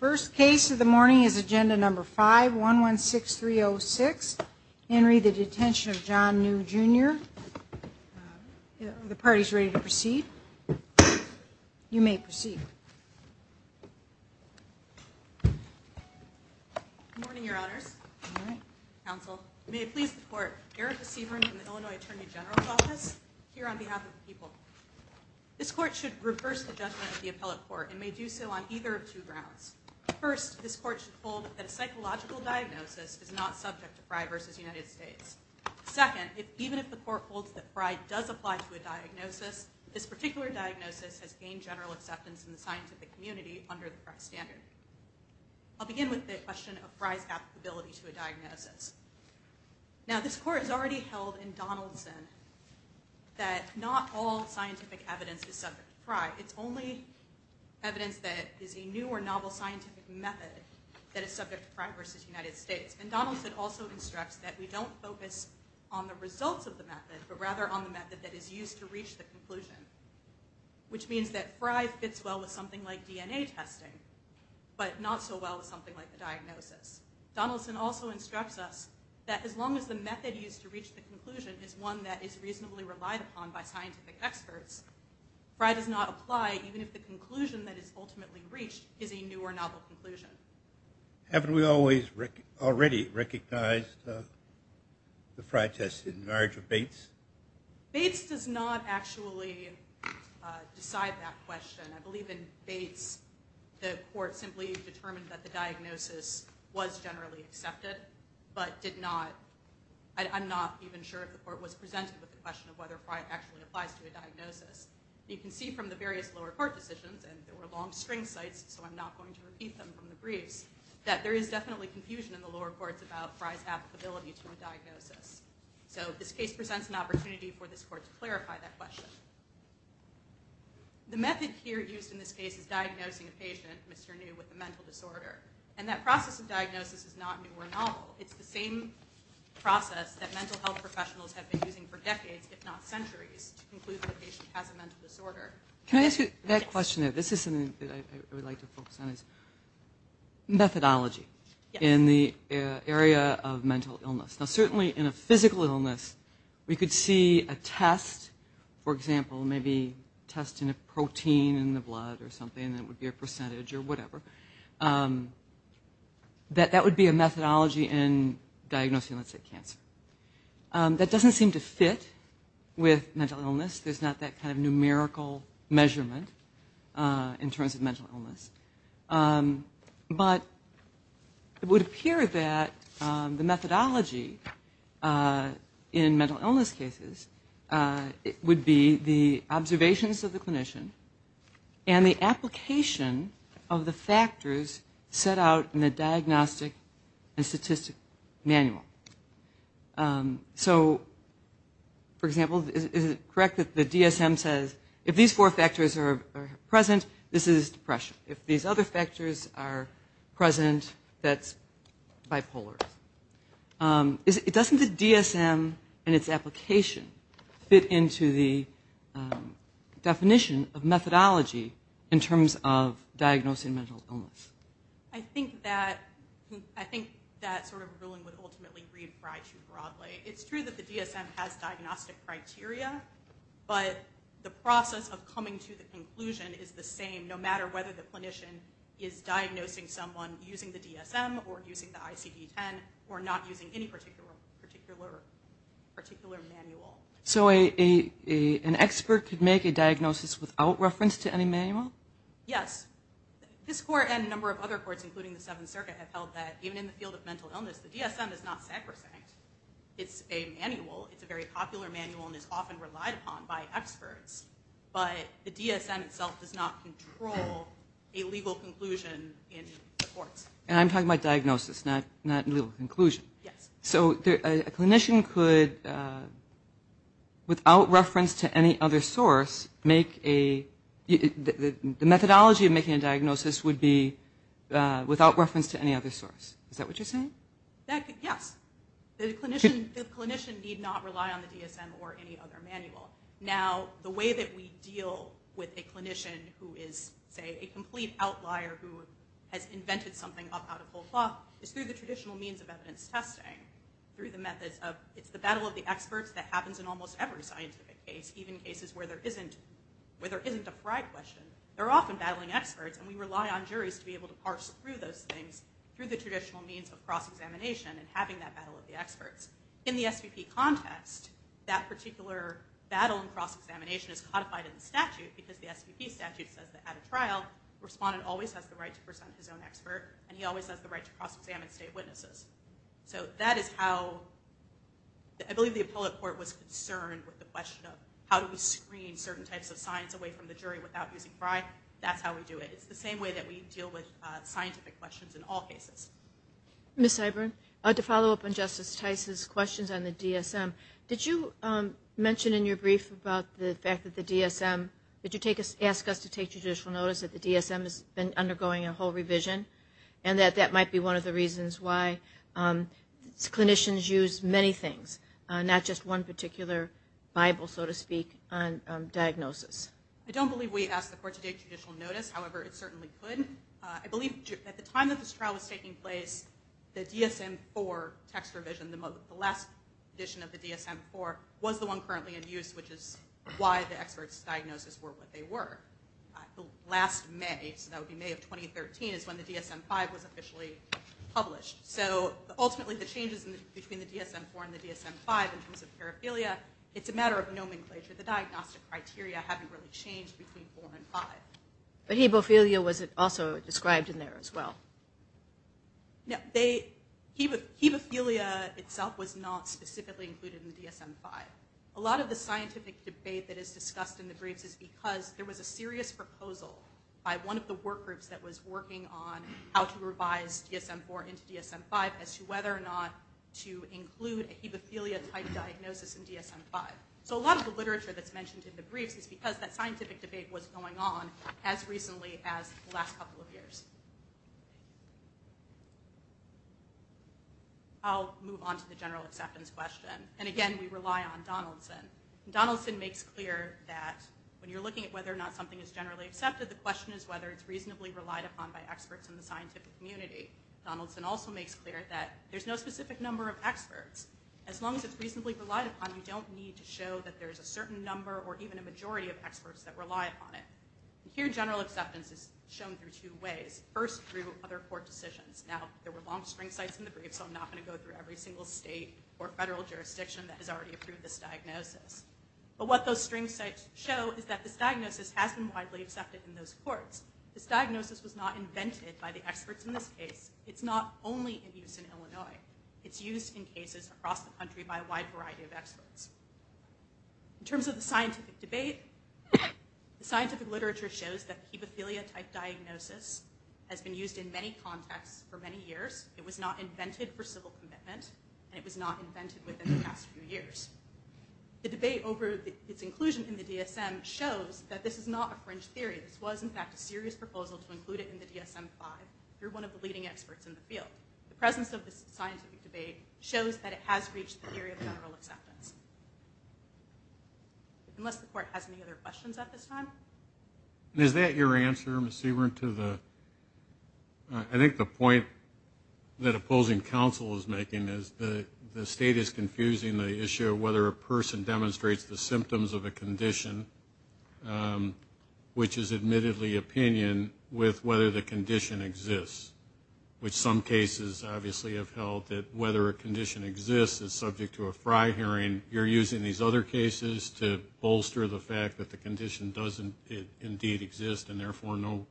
First case of the morning is agenda number 5 1 1 6 3 0 6 Henry the detention of John new jr The party's ready to proceed You may proceed Morning your honors Counsel may it please the court here at the Seabrook in the Illinois Attorney General's office here on behalf of the people This court should reverse the judgment of the appellate court and may do so on either of two grounds First this court should hold that a psychological diagnosis is not subject to fry versus United States Second if even if the court holds that fry does apply to a diagnosis this particular diagnosis has gained general acceptance in the scientific community under the standard I'll begin with the question of fries applicability to a diagnosis Now this court has already held in Donaldson That not all scientific evidence is subject to fry. It's only Evidence that is a new or novel scientific method that is subject to fry versus United States and Donaldson also Constructs that we don't focus on the results of the method but rather on the method that is used to reach the conclusion Which means that fries fits well with something like DNA testing But not so well as something like the diagnosis Donaldson also instructs us that as long as the method used to reach the conclusion is one that is reasonably relied upon by scientific experts Fry does not apply even if the conclusion that is ultimately breached is a new or novel conclusion Haven't we always Rick already recognized? the fry test in marriage of Bates Bates does not actually Decide that question. I believe in Bates The court simply determined that the diagnosis was generally accepted, but did not I'm not even sure if the court was presented with the question of whether fry actually applies to a diagnosis You can see from the various lower court decisions and there were long string sites So I'm not going to repeat them from the briefs that there is definitely confusion in the lower courts about fries applicability to a diagnosis So this case presents an opportunity for this court to clarify that question The method here used in this case is diagnosing a patient mr. New with a mental disorder and that process of diagnosis is not new or novel. It's the same Process that mental health professionals have been using for decades if not centuries Can I ask you that question that this is something I would like to focus on is Methodology in the area of mental illness now certainly in a physical illness We could see a test for example, maybe testing a protein in the blood or something that would be a percentage or whatever That that would be a methodology in Diagnosing let's say cancer That doesn't seem to fit with mental illness. There's not that kind of numerical measurement in terms of mental illness But it would appear that the methodology In mental illness cases it would be the observations of the clinician and the application of the factors set out in the diagnostic and statistic manual So For example, is it correct that the DSM says if these four factors are present? This is depression if these other factors are present that's bipolar Is it doesn't the DSM and its application fit into the Definition of methodology in terms of diagnosing mental illness. I think that I think It's true that the DSM has diagnostic criteria but the process of coming to the conclusion is the same no matter whether the clinician is Or not using any particular Particular manual so a Expert could make a diagnosis without reference to any manual. Yes This court and a number of other courts including the Seventh Circuit have held that even in the field of mental illness The DSM is not sacrosanct. It's a manual It's a very popular manual and is often relied upon by experts But the DSM itself does not control a legal conclusion in Inclusion yes, so a clinician could Without reference to any other source make a Methodology of making a diagnosis would be Without reference to any other source. Is that what you're saying? Yes Clinician need not rely on the DSM or any other manual now the way that we deal with a clinician Who is say a complete outlier who has invented something up out of whole cloth is through the traditional means of evidence testing Through the methods of it's the battle of the experts that happens in almost every scientific case even cases where there isn't Where there isn't a pride question They're often battling experts and we rely on juries to be able to parse through those things Through the traditional means of cross-examination and having that battle of the experts in the SVP context that particular Battle in cross-examination is codified in the statute because the SVP statute says that at a trial Respondent always has the right to present his own expert and he always has the right to cross-examine state witnesses. So that is how I Believe the appellate court was concerned with the question of how do we screen certain types of science away from the jury without using fry? That's how we do it. It's the same way that we deal with scientific questions in all cases Miss I burn I had to follow up on Justice Tice's questions on the DSM. Did you? Mention in your brief about the fact that the DSM did you take us ask us to take judicial notice that the DSM has been undergoing a whole revision and That that might be one of the reasons why Clinicians use many things not just one particular Bible so to speak on Diagnosis, I don't believe we asked the court to take judicial notice. However, it certainly could I believe at the time that this trial was taking place The DSM for text revision the last edition of the DSM for was the one currently in use which is why the experts Diagnosis were what they were The last May so that would be May of 2013 is when the DSM 5 was officially published So ultimately the changes in between the DSM 4 and the DSM 5 in terms of paraphilia It's a matter of nomenclature the diagnostic criteria haven't really changed between four and five But he bophilia was it also described in there as well? No, they he would keep a philia itself was not specifically included in the DSM 5 a lot of the scientific debate That is discussed in the briefs is because there was a serious proposal By one of the workgroups that was working on how to revise Yes, I'm four into DSM 5 as to whether or not to include a hemophilia type diagnosis in DSM 5 So a lot of the literature that's mentioned in the briefs is because that scientific debate was going on as recently as the last couple of years I Move on to the general acceptance question And again, we rely on Donaldson Donaldson makes clear that When you're looking at whether or not something is generally accepted the question is whether it's reasonably relied upon by experts in the scientific community Donaldson also makes clear that there's no specific number of experts as long as it's reasonably relied upon You don't need to show that there's a certain number or even a majority of experts that rely upon it Here general acceptance is shown through two ways first through other court decisions now There were long string sites in the brief So I'm not going to go through every single state or federal jurisdiction that has already approved this diagnosis But what those string sites show is that this diagnosis has been widely accepted in those courts This diagnosis was not invented by the experts in this case. It's not only in use in Illinois It's used in cases across the country by a wide variety of experts in terms of the scientific debate The scientific literature shows that the epithelia type diagnosis has been used in many contexts for many years It was not invented for civil commitment, and it was not invented within the past few years The debate over its inclusion in the DSM shows that this is not a fringe theory This was in fact a serious proposal to include it in the DSM 5 You're one of the leading experts in the field the presence of this scientific debate shows that it has reached the theory of general acceptance Unless the court has any other questions at this time Is that your answer missy weren't to the I? think the point That opposing counsel is making is the the state is confusing the issue whether a person demonstrates the symptoms of a condition Which is admittedly opinion with whether the condition exists Which some cases obviously have held that whether a condition exists is subject to a fry hearing you're using these other cases to Bolster the fact that the condition doesn't it indeed exist and therefore no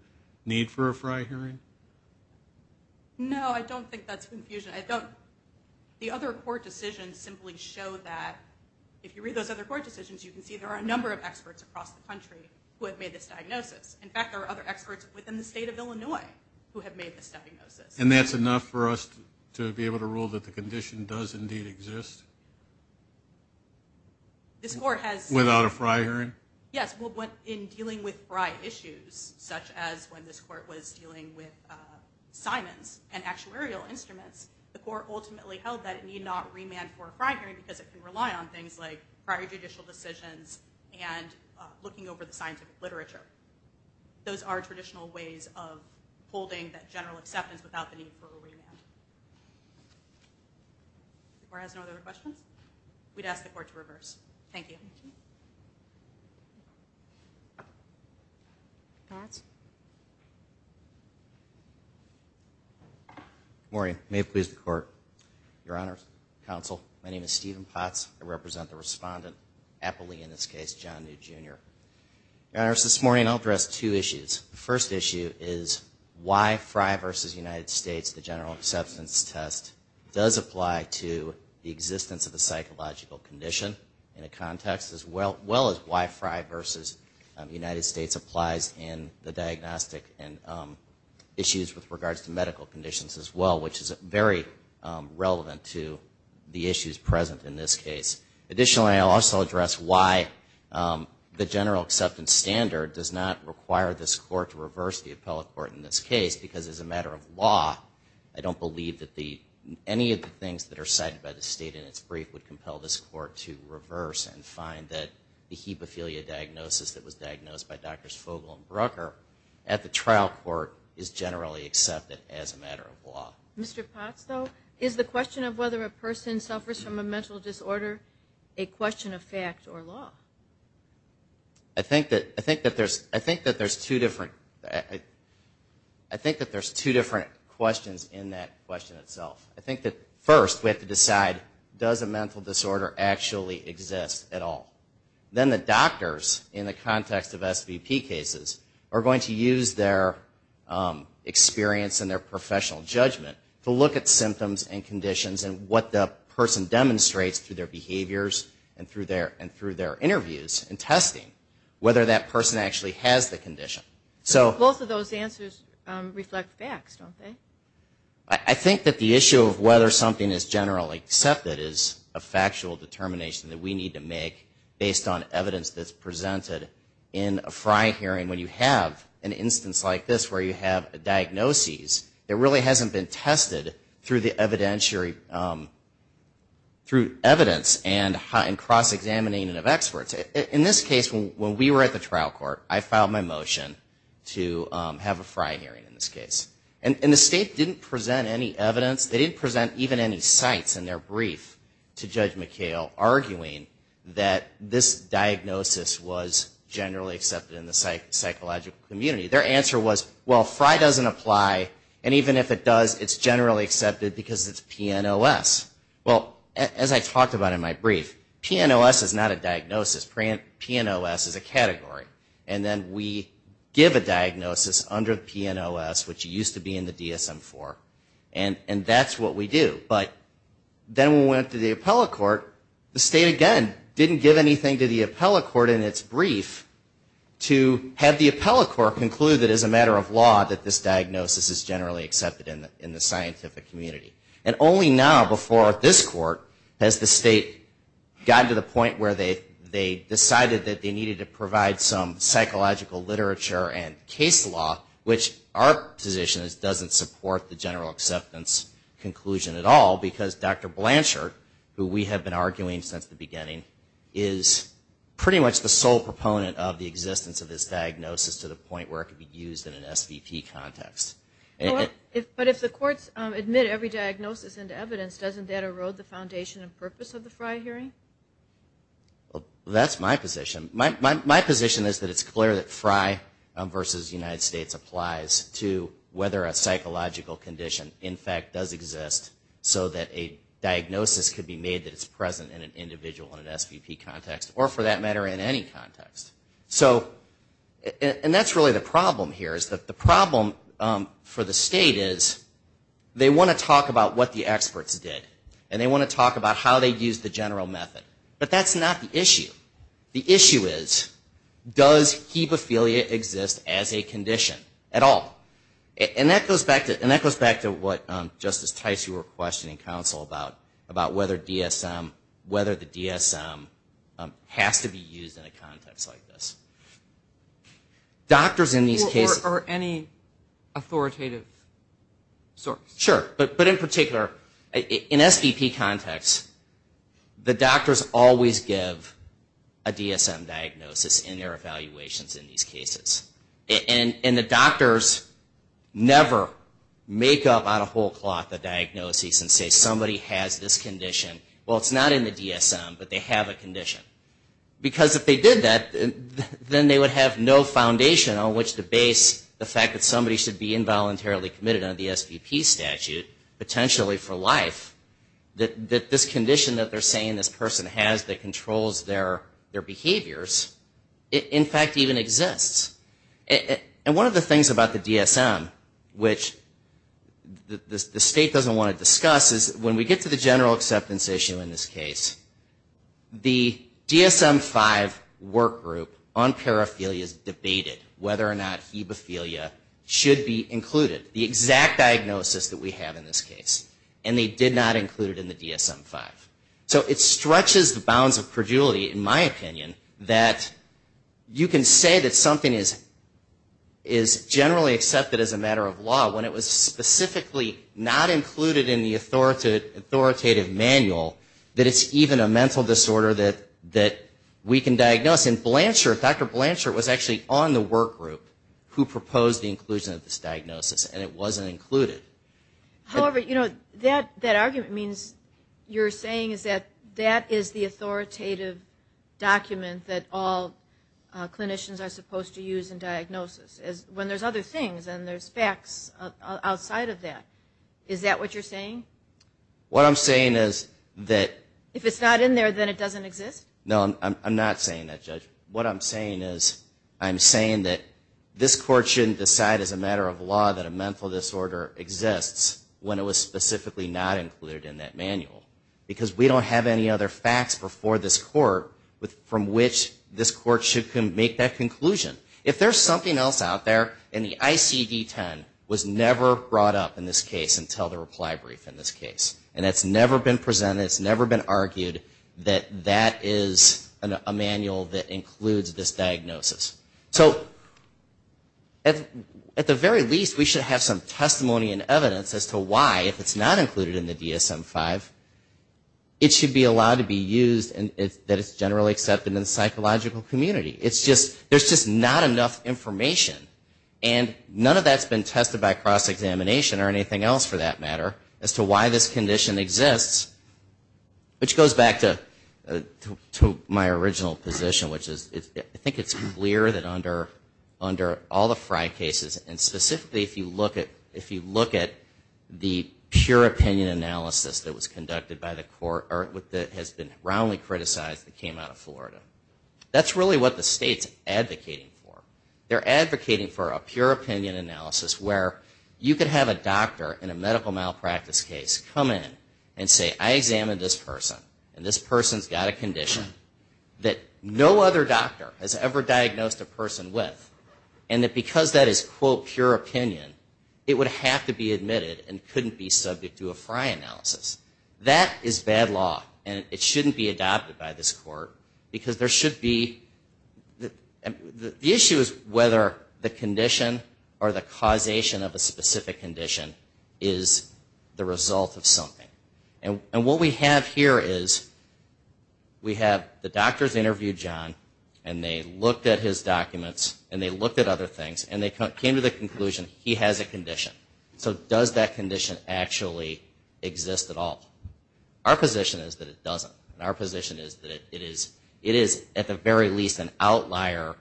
need for a fry hearing No, I don't think that's confusion. I don't The other court decisions simply show that if you read those other court decisions You can see there are a number of experts across the country who have made this diagnosis in fact Within the state of Illinois who have made this diagnosis And that's enough for us to be able to rule that the condition does indeed exist This court has without a fry hearing yes, what went in dealing with fry issues such as when this court was dealing with Simons and actuarial instruments the court ultimately held that it need not remand for a fry hearing because it can rely on things like prior judicial decisions and looking over the scientific literature Those are traditional ways of holding that general acceptance without the need for a remand Or has no other questions, we'd ask the court to reverse. Thank you Morning may have pleased the court your honors counsel. My name is Stephen Potts. I represent the respondent happily in this case John new jr Honors this morning. I'll dress two issues. The first issue is why fry versus United States the general acceptance test Does apply to the existence of the psychological condition in a context as well? well as why fry versus the United States applies in the diagnostic and issues with regards to medical conditions as well, which is very Relevant to the issues present in this case. Additionally. I'll also address why The general acceptance standard does not require this court to reverse the appellate court in this case because as a matter of law I don't believe that the Any of the things that are cited by the state in its brief would compel this court to reverse and find that the hemophilia Diagnosis that was diagnosed by doctors Fogle and Brooker at the trial court is generally accepted as a matter of law Mr. Potts though is the question of whether a person suffers from a mental disorder a question of fact or law I think that I think that there's I think that there's two different I Think that there's two different questions in that question itself I think that first we have to decide does a mental disorder actually exist at all Then the doctors in the context of SVP cases are going to use their experience and their professional judgment to look at symptoms and conditions and what the Demonstrates through their behaviors and through their and through their interviews and testing whether that person actually has the condition So both of those answers reflect facts, don't they? I Think that the issue of whether something is generally accepted is a factual determination that we need to make based on evidence that's presented in a FRI hearing when you have an instance like this where you have a Diagnoses that really hasn't been tested through the evidentiary Through evidence and hot and cross-examining and of experts in this case when we were at the trial court I filed my motion to have a FRI hearing in this case and in the state didn't present any evidence They didn't present even any sites in their brief to judge McHale arguing that this diagnosis was Generally accepted in the site psychological community their answer was well FRI doesn't apply and even if it does it's generally accepted because it's PNOS well as I talked about in my brief PNOS is not a diagnosis PNOS is a category and then we give a diagnosis under PNOS which used to be in the DSM for and and that's what we do, but Then we went to the appellate court the state again didn't give anything to the appellate court in its brief To have the appellate court conclude that as a matter of law that this diagnosis is generally accepted in the scientific community And only now before this court has the state Gotten to the point where they they decided that they needed to provide some Psychological literature and case law which our position is doesn't support the general acceptance Conclusion at all because dr. Blanchard who we have been arguing since the beginning is Pretty much the sole proponent of the existence of this diagnosis to the point where it could be used in an SVP context But if the courts admit every diagnosis and evidence doesn't that erode the foundation and purpose of the FRI hearing That's my position my position is that it's clear that FRI versus United States applies to whether a psychological condition in fact does exist so that a Diagnosis could be made that it's present in an individual in an SVP context or for that matter in any context so And that's really the problem here is that the problem for the state is They want to talk about what the experts did and they want to talk about how they use the general method But that's not the issue the issue is Does he paphilia exist as a condition at all? And that goes back to and that goes back to what Justice Tice you were questioning counsel about about whether DSM whether the DSM Has to be used in a context like this Doctors in these cases are any authoritative Sort sure, but but in particular in SVP context the doctors always give a DSM diagnosis in their evaluations in these cases and in the doctors Never make up on a whole cloth the diagnoses and say somebody has this condition Well, it's not in the DSM, but they have a condition Because if they did that Then they would have no foundation on which to base the fact that somebody should be involuntarily committed on the SVP statute potentially for life That that this condition that they're saying this person has that controls their their behaviors in fact even exists and one of the things about the DSM which The state doesn't want to discuss is when we get to the general acceptance issue in this case The DSM 5 work group on paraphilia is debated whether or not he before you Should be included the exact diagnosis that we have in this case And they did not include it in the DSM 5 so it stretches the bounds of credulity in my opinion that you can say that something is is Generally accepted as a matter of law when it was specifically not included in the authority Authoritative manual that it's even a mental disorder that that we can diagnose in Blanchard Dr. Blanchard was actually on the work group who proposed the inclusion of this diagnosis, and it wasn't included However, you know that that argument means you're saying is that that is the authoritative? document that all Clinicians are supposed to use in diagnosis as when there's other things and there's facts Outside of that is that what you're saying What I'm saying is that if it's not in there, then it doesn't exist no I'm not saying that judge what I'm saying is I'm saying that This court shouldn't decide as a matter of law that a mental disorder exists when it was specifically not included in that manual Because we don't have any other facts before this court with from which this court should can make that conclusion If there's something else out there in the ICD 10 was never brought up in this case until the reply brief in this case And it's never been presented. It's never been argued that that is a manual that includes this diagnosis, so At at the very least we should have some testimony and evidence as to why if it's not included in the DSM 5 It should be allowed to be used and that it's generally accepted in the psychological community. It's just there's just not enough information and None of that's been tested by cross-examination or anything else for that matter as to why this condition exists which goes back to To my original position, which is I think it's clear that under under all the fry cases and specifically if you look at if you look at The pure opinion analysis that was conducted by the court or with that has been roundly criticized that came out of Florida That's really what the state's advocating for They're advocating for a pure opinion analysis where you could have a doctor in a medical malpractice case come in and say I examined this person and this person's got a condition that No other doctor has ever diagnosed a person with and that because that is quote pure opinion It would have to be admitted and couldn't be subject to a fry analysis That is bad law, and it shouldn't be adopted by this court because there should be The issue is whether the condition or the causation of a specific condition is the result of something and what we have here is We have the doctors interviewed John and they looked at his documents and they looked at other things and they came to the conclusion He has a condition. So does that condition actually Exist at all our position is that it doesn't our position is that it is it is at the very least an outlier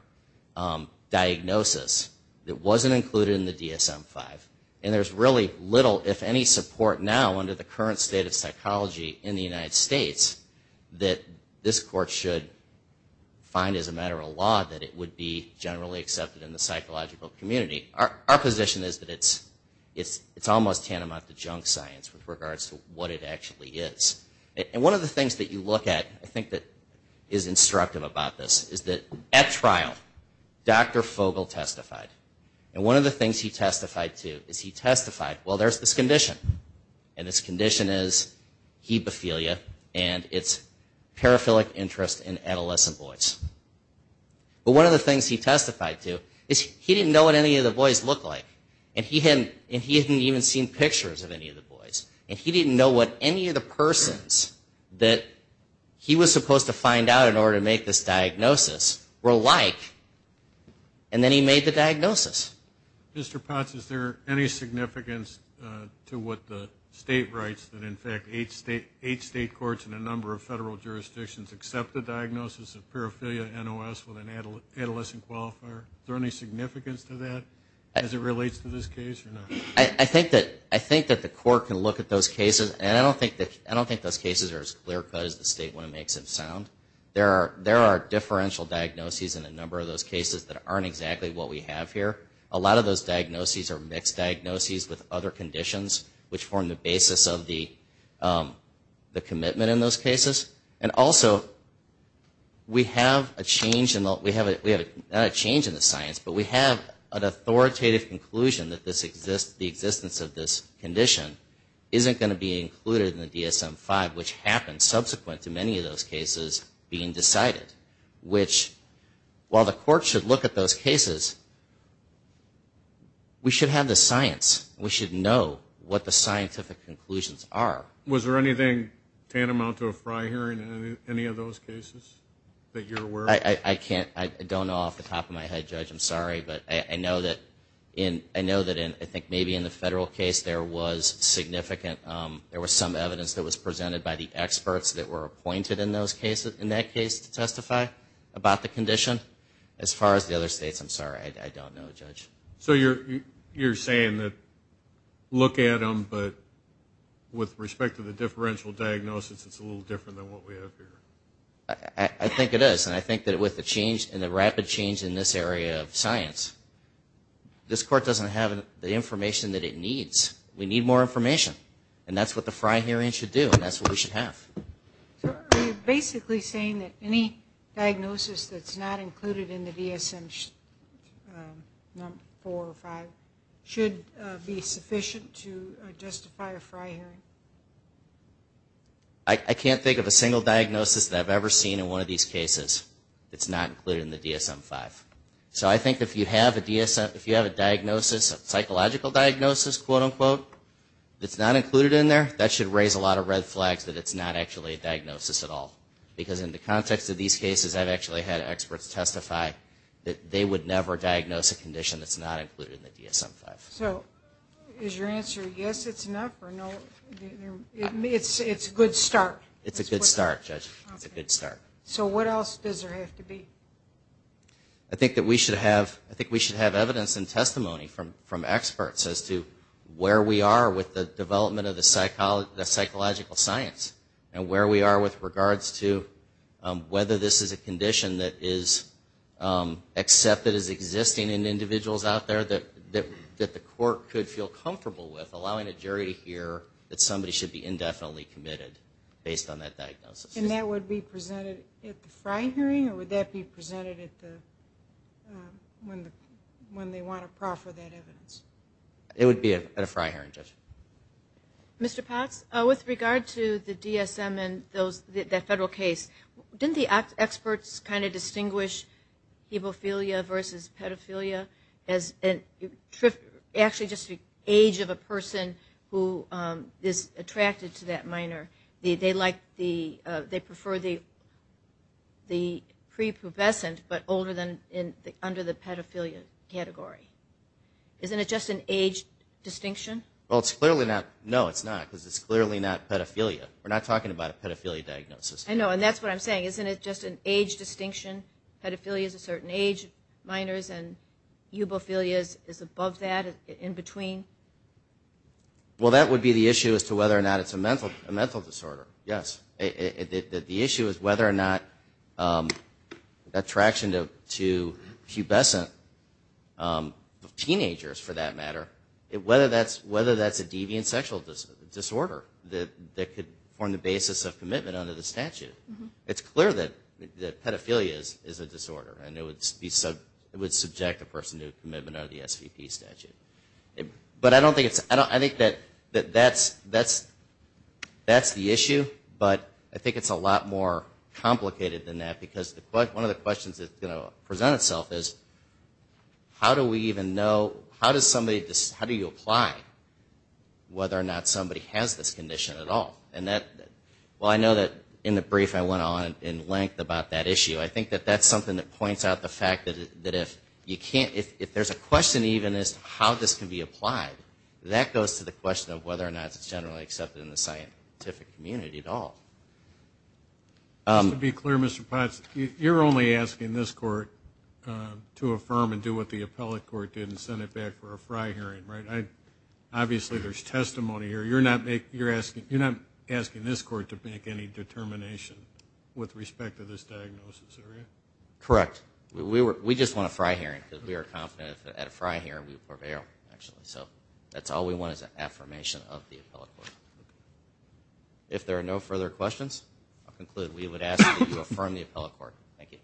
Diagnosis that wasn't included in the dsm-5 and there's really little if any support now under the current state of psychology in the United States that this court should Find as a matter of law that it would be generally accepted in the psychological community Our position is that it's it's it's almost tantamount to junk science with regards to what it actually is And one of the things that you look at I think that is instructive about this is that at trial Dr. Fogel testified and one of the things he testified to is he testified. Well, there's this condition and this condition is hemophilia and it's paraphilic interest in adolescent boys But one of the things he testified to is he didn't know what any of the boys look like and he hadn't and he hadn't even seen pictures of any of the boys and he didn't know what any of the persons that he was supposed to find out in order to make this diagnosis were like and Then he made the diagnosis Mr. Potts, is there any significance? To what the state writes that in fact eight state eight state courts in a number of federal jurisdictions Accept the diagnosis of paraphilia NOS with an adolescent qualifier Is there any significance to that as it relates to this case? I think that I think that the court can look at those cases and I don't think that I don't think those cases are as Clear cut as the state when it makes it sound There are there are differential diagnoses in a number of those cases that aren't exactly what we have here a lot of those diagnoses are mixed diagnoses with other conditions which form the basis of the Commitment in those cases and also We have a change in what we have it We have a change in the science, but we have an authoritative conclusion that this exists the existence of this condition Isn't going to be included in the DSM 5 which happened subsequent to many of those cases being decided which While the court should look at those cases We Should have the science we should know what the scientific conclusions are was there anything? Tantamount to a fry hearing any of those cases that you're aware I I can't I don't know off the top of my head judge I'm sorry, but I know that in I know that in I think maybe in the federal case there was Significant there was some evidence that was presented by the experts that were appointed in those cases in that case to testify About the condition as far as the other states. I'm sorry. I don't know judge, so you're you're saying that Look at them, but With respect to the differential diagnosis. It's a little different than what we have here I I think it is and I think that with the change and the rapid change in this area of science This court doesn't have the information that it needs we need more information And that's what the fry hearing should do and that's what we should have Basically saying that any diagnosis, that's not included in the DSM Four or five should be sufficient to justify a fry hearing I Can't think of a single diagnosis that I've ever seen in one of these cases It's not included in the DSM five, so I think if you have a DSM if you have a diagnosis of psychological diagnosis quote-unquote It's not included in there that should raise a lot of red flags that it's not actually a diagnosis at all Because in the context of these cases I've actually had experts testify that they would never diagnose a condition That's not included in the DSM five. So is your answer yes, it's enough or no It's it's good start. It's a good start judge. It's a good start. So what else does there have to be I? Experts as to where we are with the development of the psychology the psychological science and where we are with regards to whether this is a condition that is Accepted as existing in individuals out there that that that the court could feel comfortable with allowing a jury to hear that somebody should be indefinitely committed based on that diagnosis and that would be presented if the fry hearing or would that be presented at the When the when they want to proffer that evidence it would be a fry hearing judge Mr.. Potts with regard to the DSM and those that federal case didn't the experts kind of distinguish hemophilia versus pedophilia as trip actually just the age of a person who is attracted to that minor the they like the they prefer the The prepubescent, but older than in under the pedophilia category Isn't it just an age? Distinction well, it's clearly not no. It's not because it's clearly not pedophilia. We're not talking about a pedophilia diagnosis I know and that's what I'm saying isn't it just an age distinction pedophilia is a certain age minors and Ubophilia is above that in between Well, that would be the issue as to whether or not it's a mental a mental disorder. Yes The issue is whether or not Attraction to pubescent Teenagers for that matter it whether that's whether that's a deviant sexual Disorder that that could form the basis of commitment under the statute It's clear that the pedophilia is is a disorder I know it's be sub it would subject a person to a commitment out of the SVP statute But I don't think it's I don't I think that that that's that's That's the issue, but I think it's a lot more Complicated than that because the but one of the questions that's going to present itself is How do we even know how does somebody just how do you apply? Whether or not somebody has this condition at all and that well I know that in the brief I went on in length about that issue I think that that's something that points out the fact that if you can't if there's a question even as to how this can be Applied that goes to the question of whether or not it's generally accepted in the scientific community at all Be clear mr. Potts you're only asking this court To affirm and do what the appellate court didn't send it back for a fry hearing right? I obviously there's testimony here. You're not make you're asking you're not asking this court to make any determination with respect to this diagnosis Correct we were we just want to fry hearing because we are confident at a fry here we prevail actually So that's all we want is an affirmation of the appellate court If there are no further questions, I'll conclude we would ask you affirm the appellate court. Thank you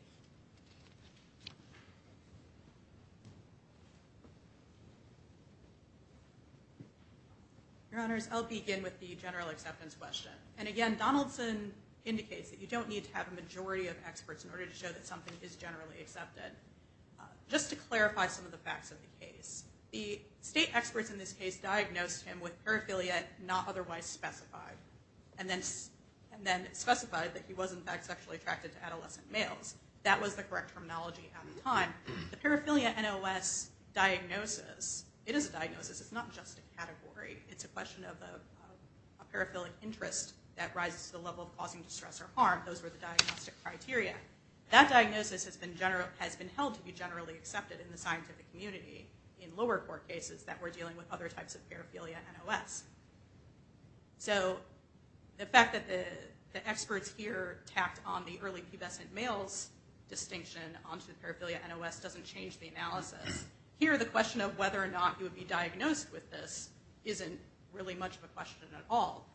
Your honors I'll begin with the general acceptance question and again Donaldson Indicates that you don't need to have a majority of experts in order to show that something is generally accepted just to clarify some of the facts of the case the state experts in this case diagnosed him with paraphilia not otherwise specified and Then and then specified that he wasn't back sexually attracted to adolescent males. That was the correct terminology at the time the paraphilia NOS Diagnosis, it is a diagnosis. It's not just a category. It's a question of the Paraphilic interest that rises to the level of causing distress or harm those were the diagnostic criteria That diagnosis has been general has been held to be generally accepted in the scientific community In lower court cases that we're dealing with other types of paraphilia NOS so The fact that the experts here tapped on the early pubescent males Distinction onto the paraphilia NOS doesn't change the analysis here the question of whether or not you would be diagnosed with this Isn't really much of a question at all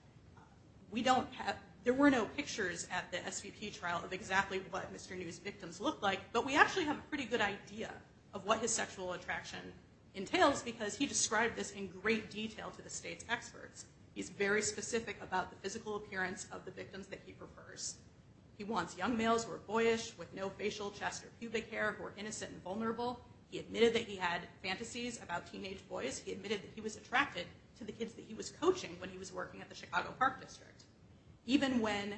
We don't have there were no pictures at the SVP trial of exactly what mr. New's victims look like but we actually have a pretty good idea of what his sexual attraction Entails because he described this in great detail to the state's experts He's very specific about the physical appearance of the victims that he prefers He wants young males who are boyish with no facial chest or pubic hair who are innocent and vulnerable He admitted that he had fantasies about teenage boys He was attracted to the kids that he was coaching when he was working at the Chicago Park District even when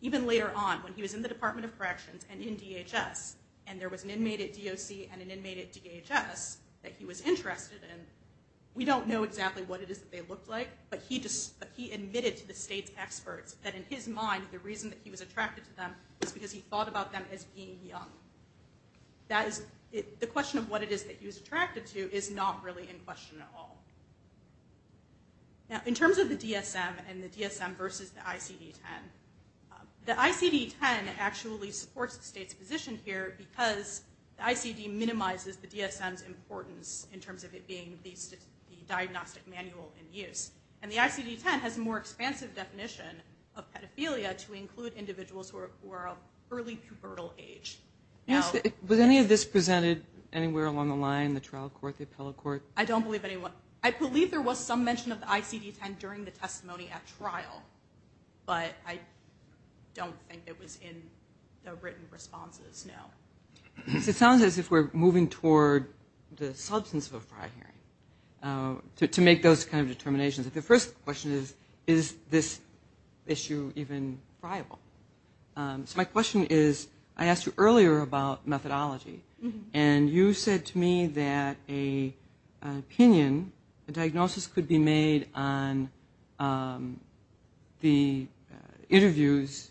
Even later on when he was in the Department of Corrections and in DHS And there was an inmate at DOC and an inmate at DHS that he was interested in We don't know exactly what it is that they looked like but he just but he admitted to the state's experts that in his mind The reason that he was attracted to them was because he thought about them as being young That is the question of what it is that he was attracted to is not really in question at all Now in terms of the DSM and the DSM versus the ICD-10 The ICD-10 actually supports the state's position here because the ICD minimizes the DSM's importance in terms of it being the Diagnostic manual in use and the ICD-10 has more expansive definition of pedophilia to include individuals who are early pubertal age Was any of this presented anywhere along the line the trial court the appellate court? I don't believe anyone. I believe there was some mention of the ICD-10 during the testimony at trial but I Don't think it was in the written responses. No It sounds as if we're moving toward the substance of a prior hearing To make those kind of determinations if the first question is is this issue even friable? My question is I asked you earlier about methodology and you said to me that a opinion a diagnosis could be made on The interviews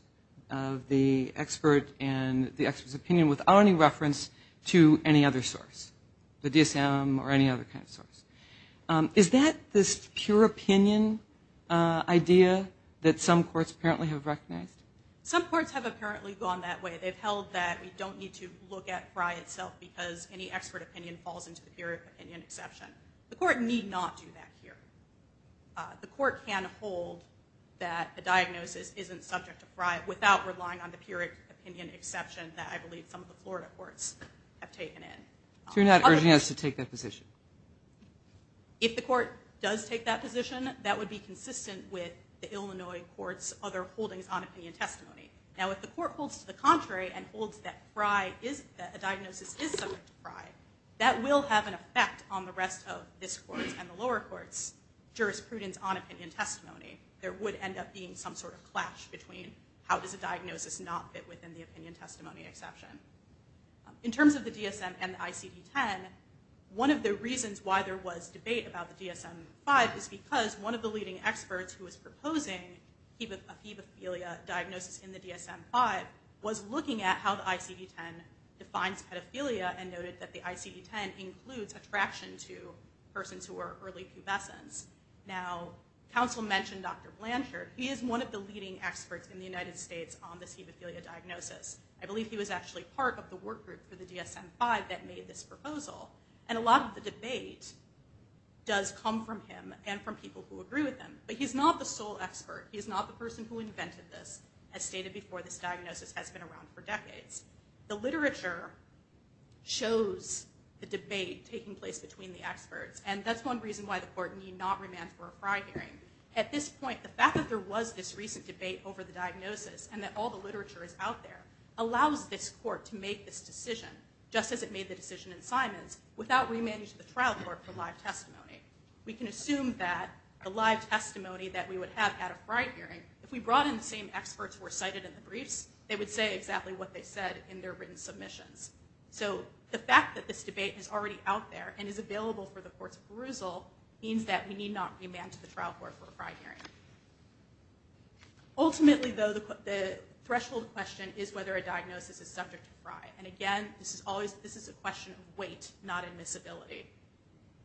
of the Expert and the experts opinion without any reference to any other source the DSM or any other kind of source Is that this pure opinion? Idea that some courts apparently have recognized some courts have apparently gone that way They've held that we don't need to look at Frye itself because any expert opinion falls into the pure opinion exception The court need not do that here The court can hold that The diagnosis isn't subject to fry without relying on the pure opinion exception that I believe some of the Florida courts Have taken in you're not urging us to take that position If the court does take that position that would be consistent with the Illinois courts other holdings on opinion testimony Now if the court holds to the contrary and holds that fry is that a diagnosis is subject to fry That will have an effect on the rest of this court and the lower courts jurisprudence on opinion testimony There would end up being some sort of clash between how does a diagnosis not fit within the opinion testimony exception? in terms of the DSM and ICD 10 One of the reasons why there was debate about the DSM 5 is because one of the leading experts who was proposing Keep it a fever Philia diagnosis in the DSM 5 was looking at how the ICD 10 Defines pedophilia and noted that the ICD 10 includes attraction to persons who are early pubescence now Council mentioned dr. Blanchard. He is one of the leading experts in the United States on the C. Papalia diagnosis I believe he was actually part of the work group for the DSM 5 that made this proposal and a lot of the debate Does come from him and from people who agree with them, but he's not the sole expert He's not the person who invented this as stated before this diagnosis has been around for decades the literature shows the debate taking place between the experts and that's one reason why the court need not remand for a fry hearing at this point the Fact that there was this recent debate over the diagnosis and that all the literature is out there Allows this court to make this decision just as it made the decision in Simons without remanding to the trial court for live testimony We can assume that a live testimony that we would have at a fry hearing if we brought in the same experts were cited in The briefs they would say exactly what they said in their written submissions So the fact that this debate is already out there and is available for the courts of perusal Means that we need not remand to the trial court for a fry hearing Ultimately though the Threshold question is whether a diagnosis is subject to fry and again. This is always this is a question of weight not admissibility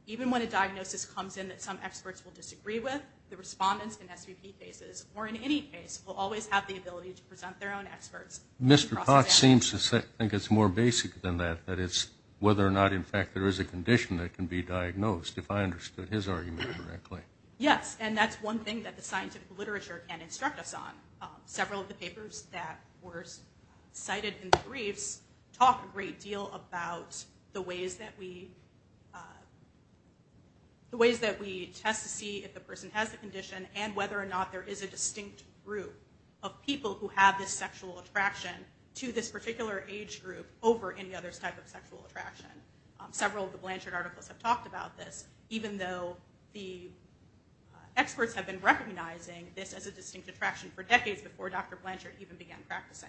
Even when a diagnosis comes in that some experts will disagree with the respondents and SVP faces or in any case will always have the ability To present their own experts. Mr. Cox seems to think it's more basic than that that it's whether or not in fact there is a condition that can be diagnosed if I Understood his argument correctly. Yes, and that's one thing that the scientific literature can instruct us on several of the papers that were Cited in the briefs talk a great deal about the ways that we The ways that we test to see if the person has the condition and whether or not there is a distinct group of People who have this sexual attraction to this particular age group over any other type of sexual attraction Several of the Blanchard articles have talked about this even though the Experts have been recognizing this as a distinct attraction for decades before. Dr. Blanchard even began practicing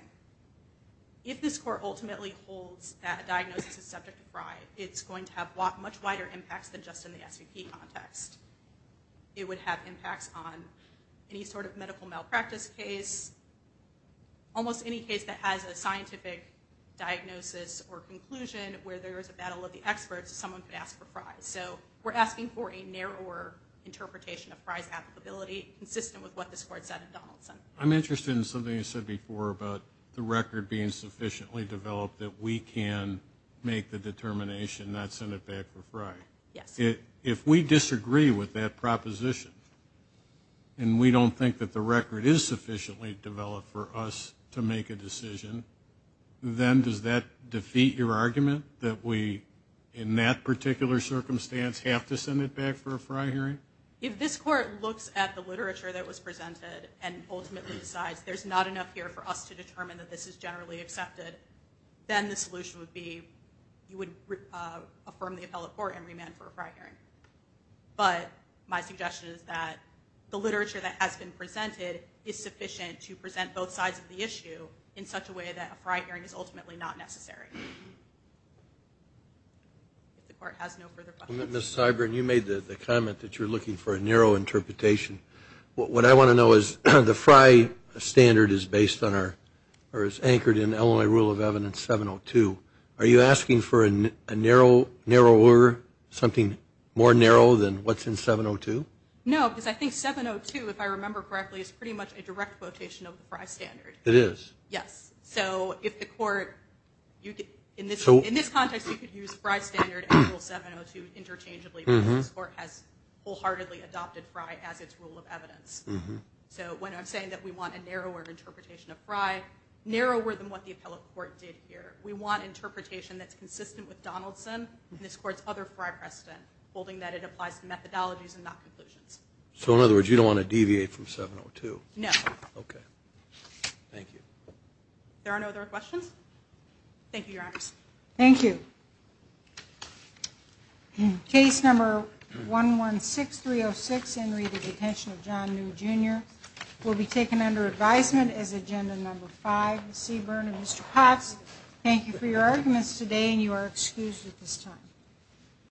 If this court ultimately holds that diagnosis is subject to fry it's going to have a lot much wider impacts than just in the SVP context It would have impacts on any sort of medical malpractice case almost any case that has a scientific Diagnosis or conclusion where there is a battle of the experts someone could ask for fries. So we're asking for a narrower Interpretation of fries applicability consistent with what this court said in Donaldson I'm interested in something you said before about the record being sufficiently developed that we can Make the determination not send it back for fry. Yes it if we disagree with that proposition and We don't think that the record is sufficiently developed for us to make a decision Then does that defeat your argument that we in that particular Circumstance have to send it back for a fry hearing if this court looks at the literature that was presented and ultimately decides There's not enough here for us to determine that. This is generally accepted then the solution would be you would Affirm the appellate court and remand for a fry hearing but my suggestion is that The literature that has been presented is sufficient to present both sides of the issue in such a way that a fry hearing is ultimately not necessary The cyber and you made the comment that you're looking for a narrow interpretation What I want to know is the fry Standard is based on our or is anchored in Illinois rule of evidence 702 Are you asking for a narrow narrow or something more narrow than what's in 702? No, because I think 702 if I remember correctly is pretty much a direct quotation of the fry standard. It is Yes, so if the court you get in this in this context, you could use fry standard Interchangeably or has wholeheartedly adopted fry as its rule of evidence So when I'm saying that we want a narrower interpretation of fry narrower than what the appellate court did here We want interpretation that's consistent with Donaldson this court's other fry precedent holding that it applies to methodologies and not conclusions So in other words, you don't want to deviate from 702. No, okay Thank you There are no other questions Thank you. Your eyes. Thank you In case number 116 306 and read the detention of John new jr. Will be taken under advisement as agenda number five Seaburn and mr. Potts. Thank you for your arguments today, and you are excused at this time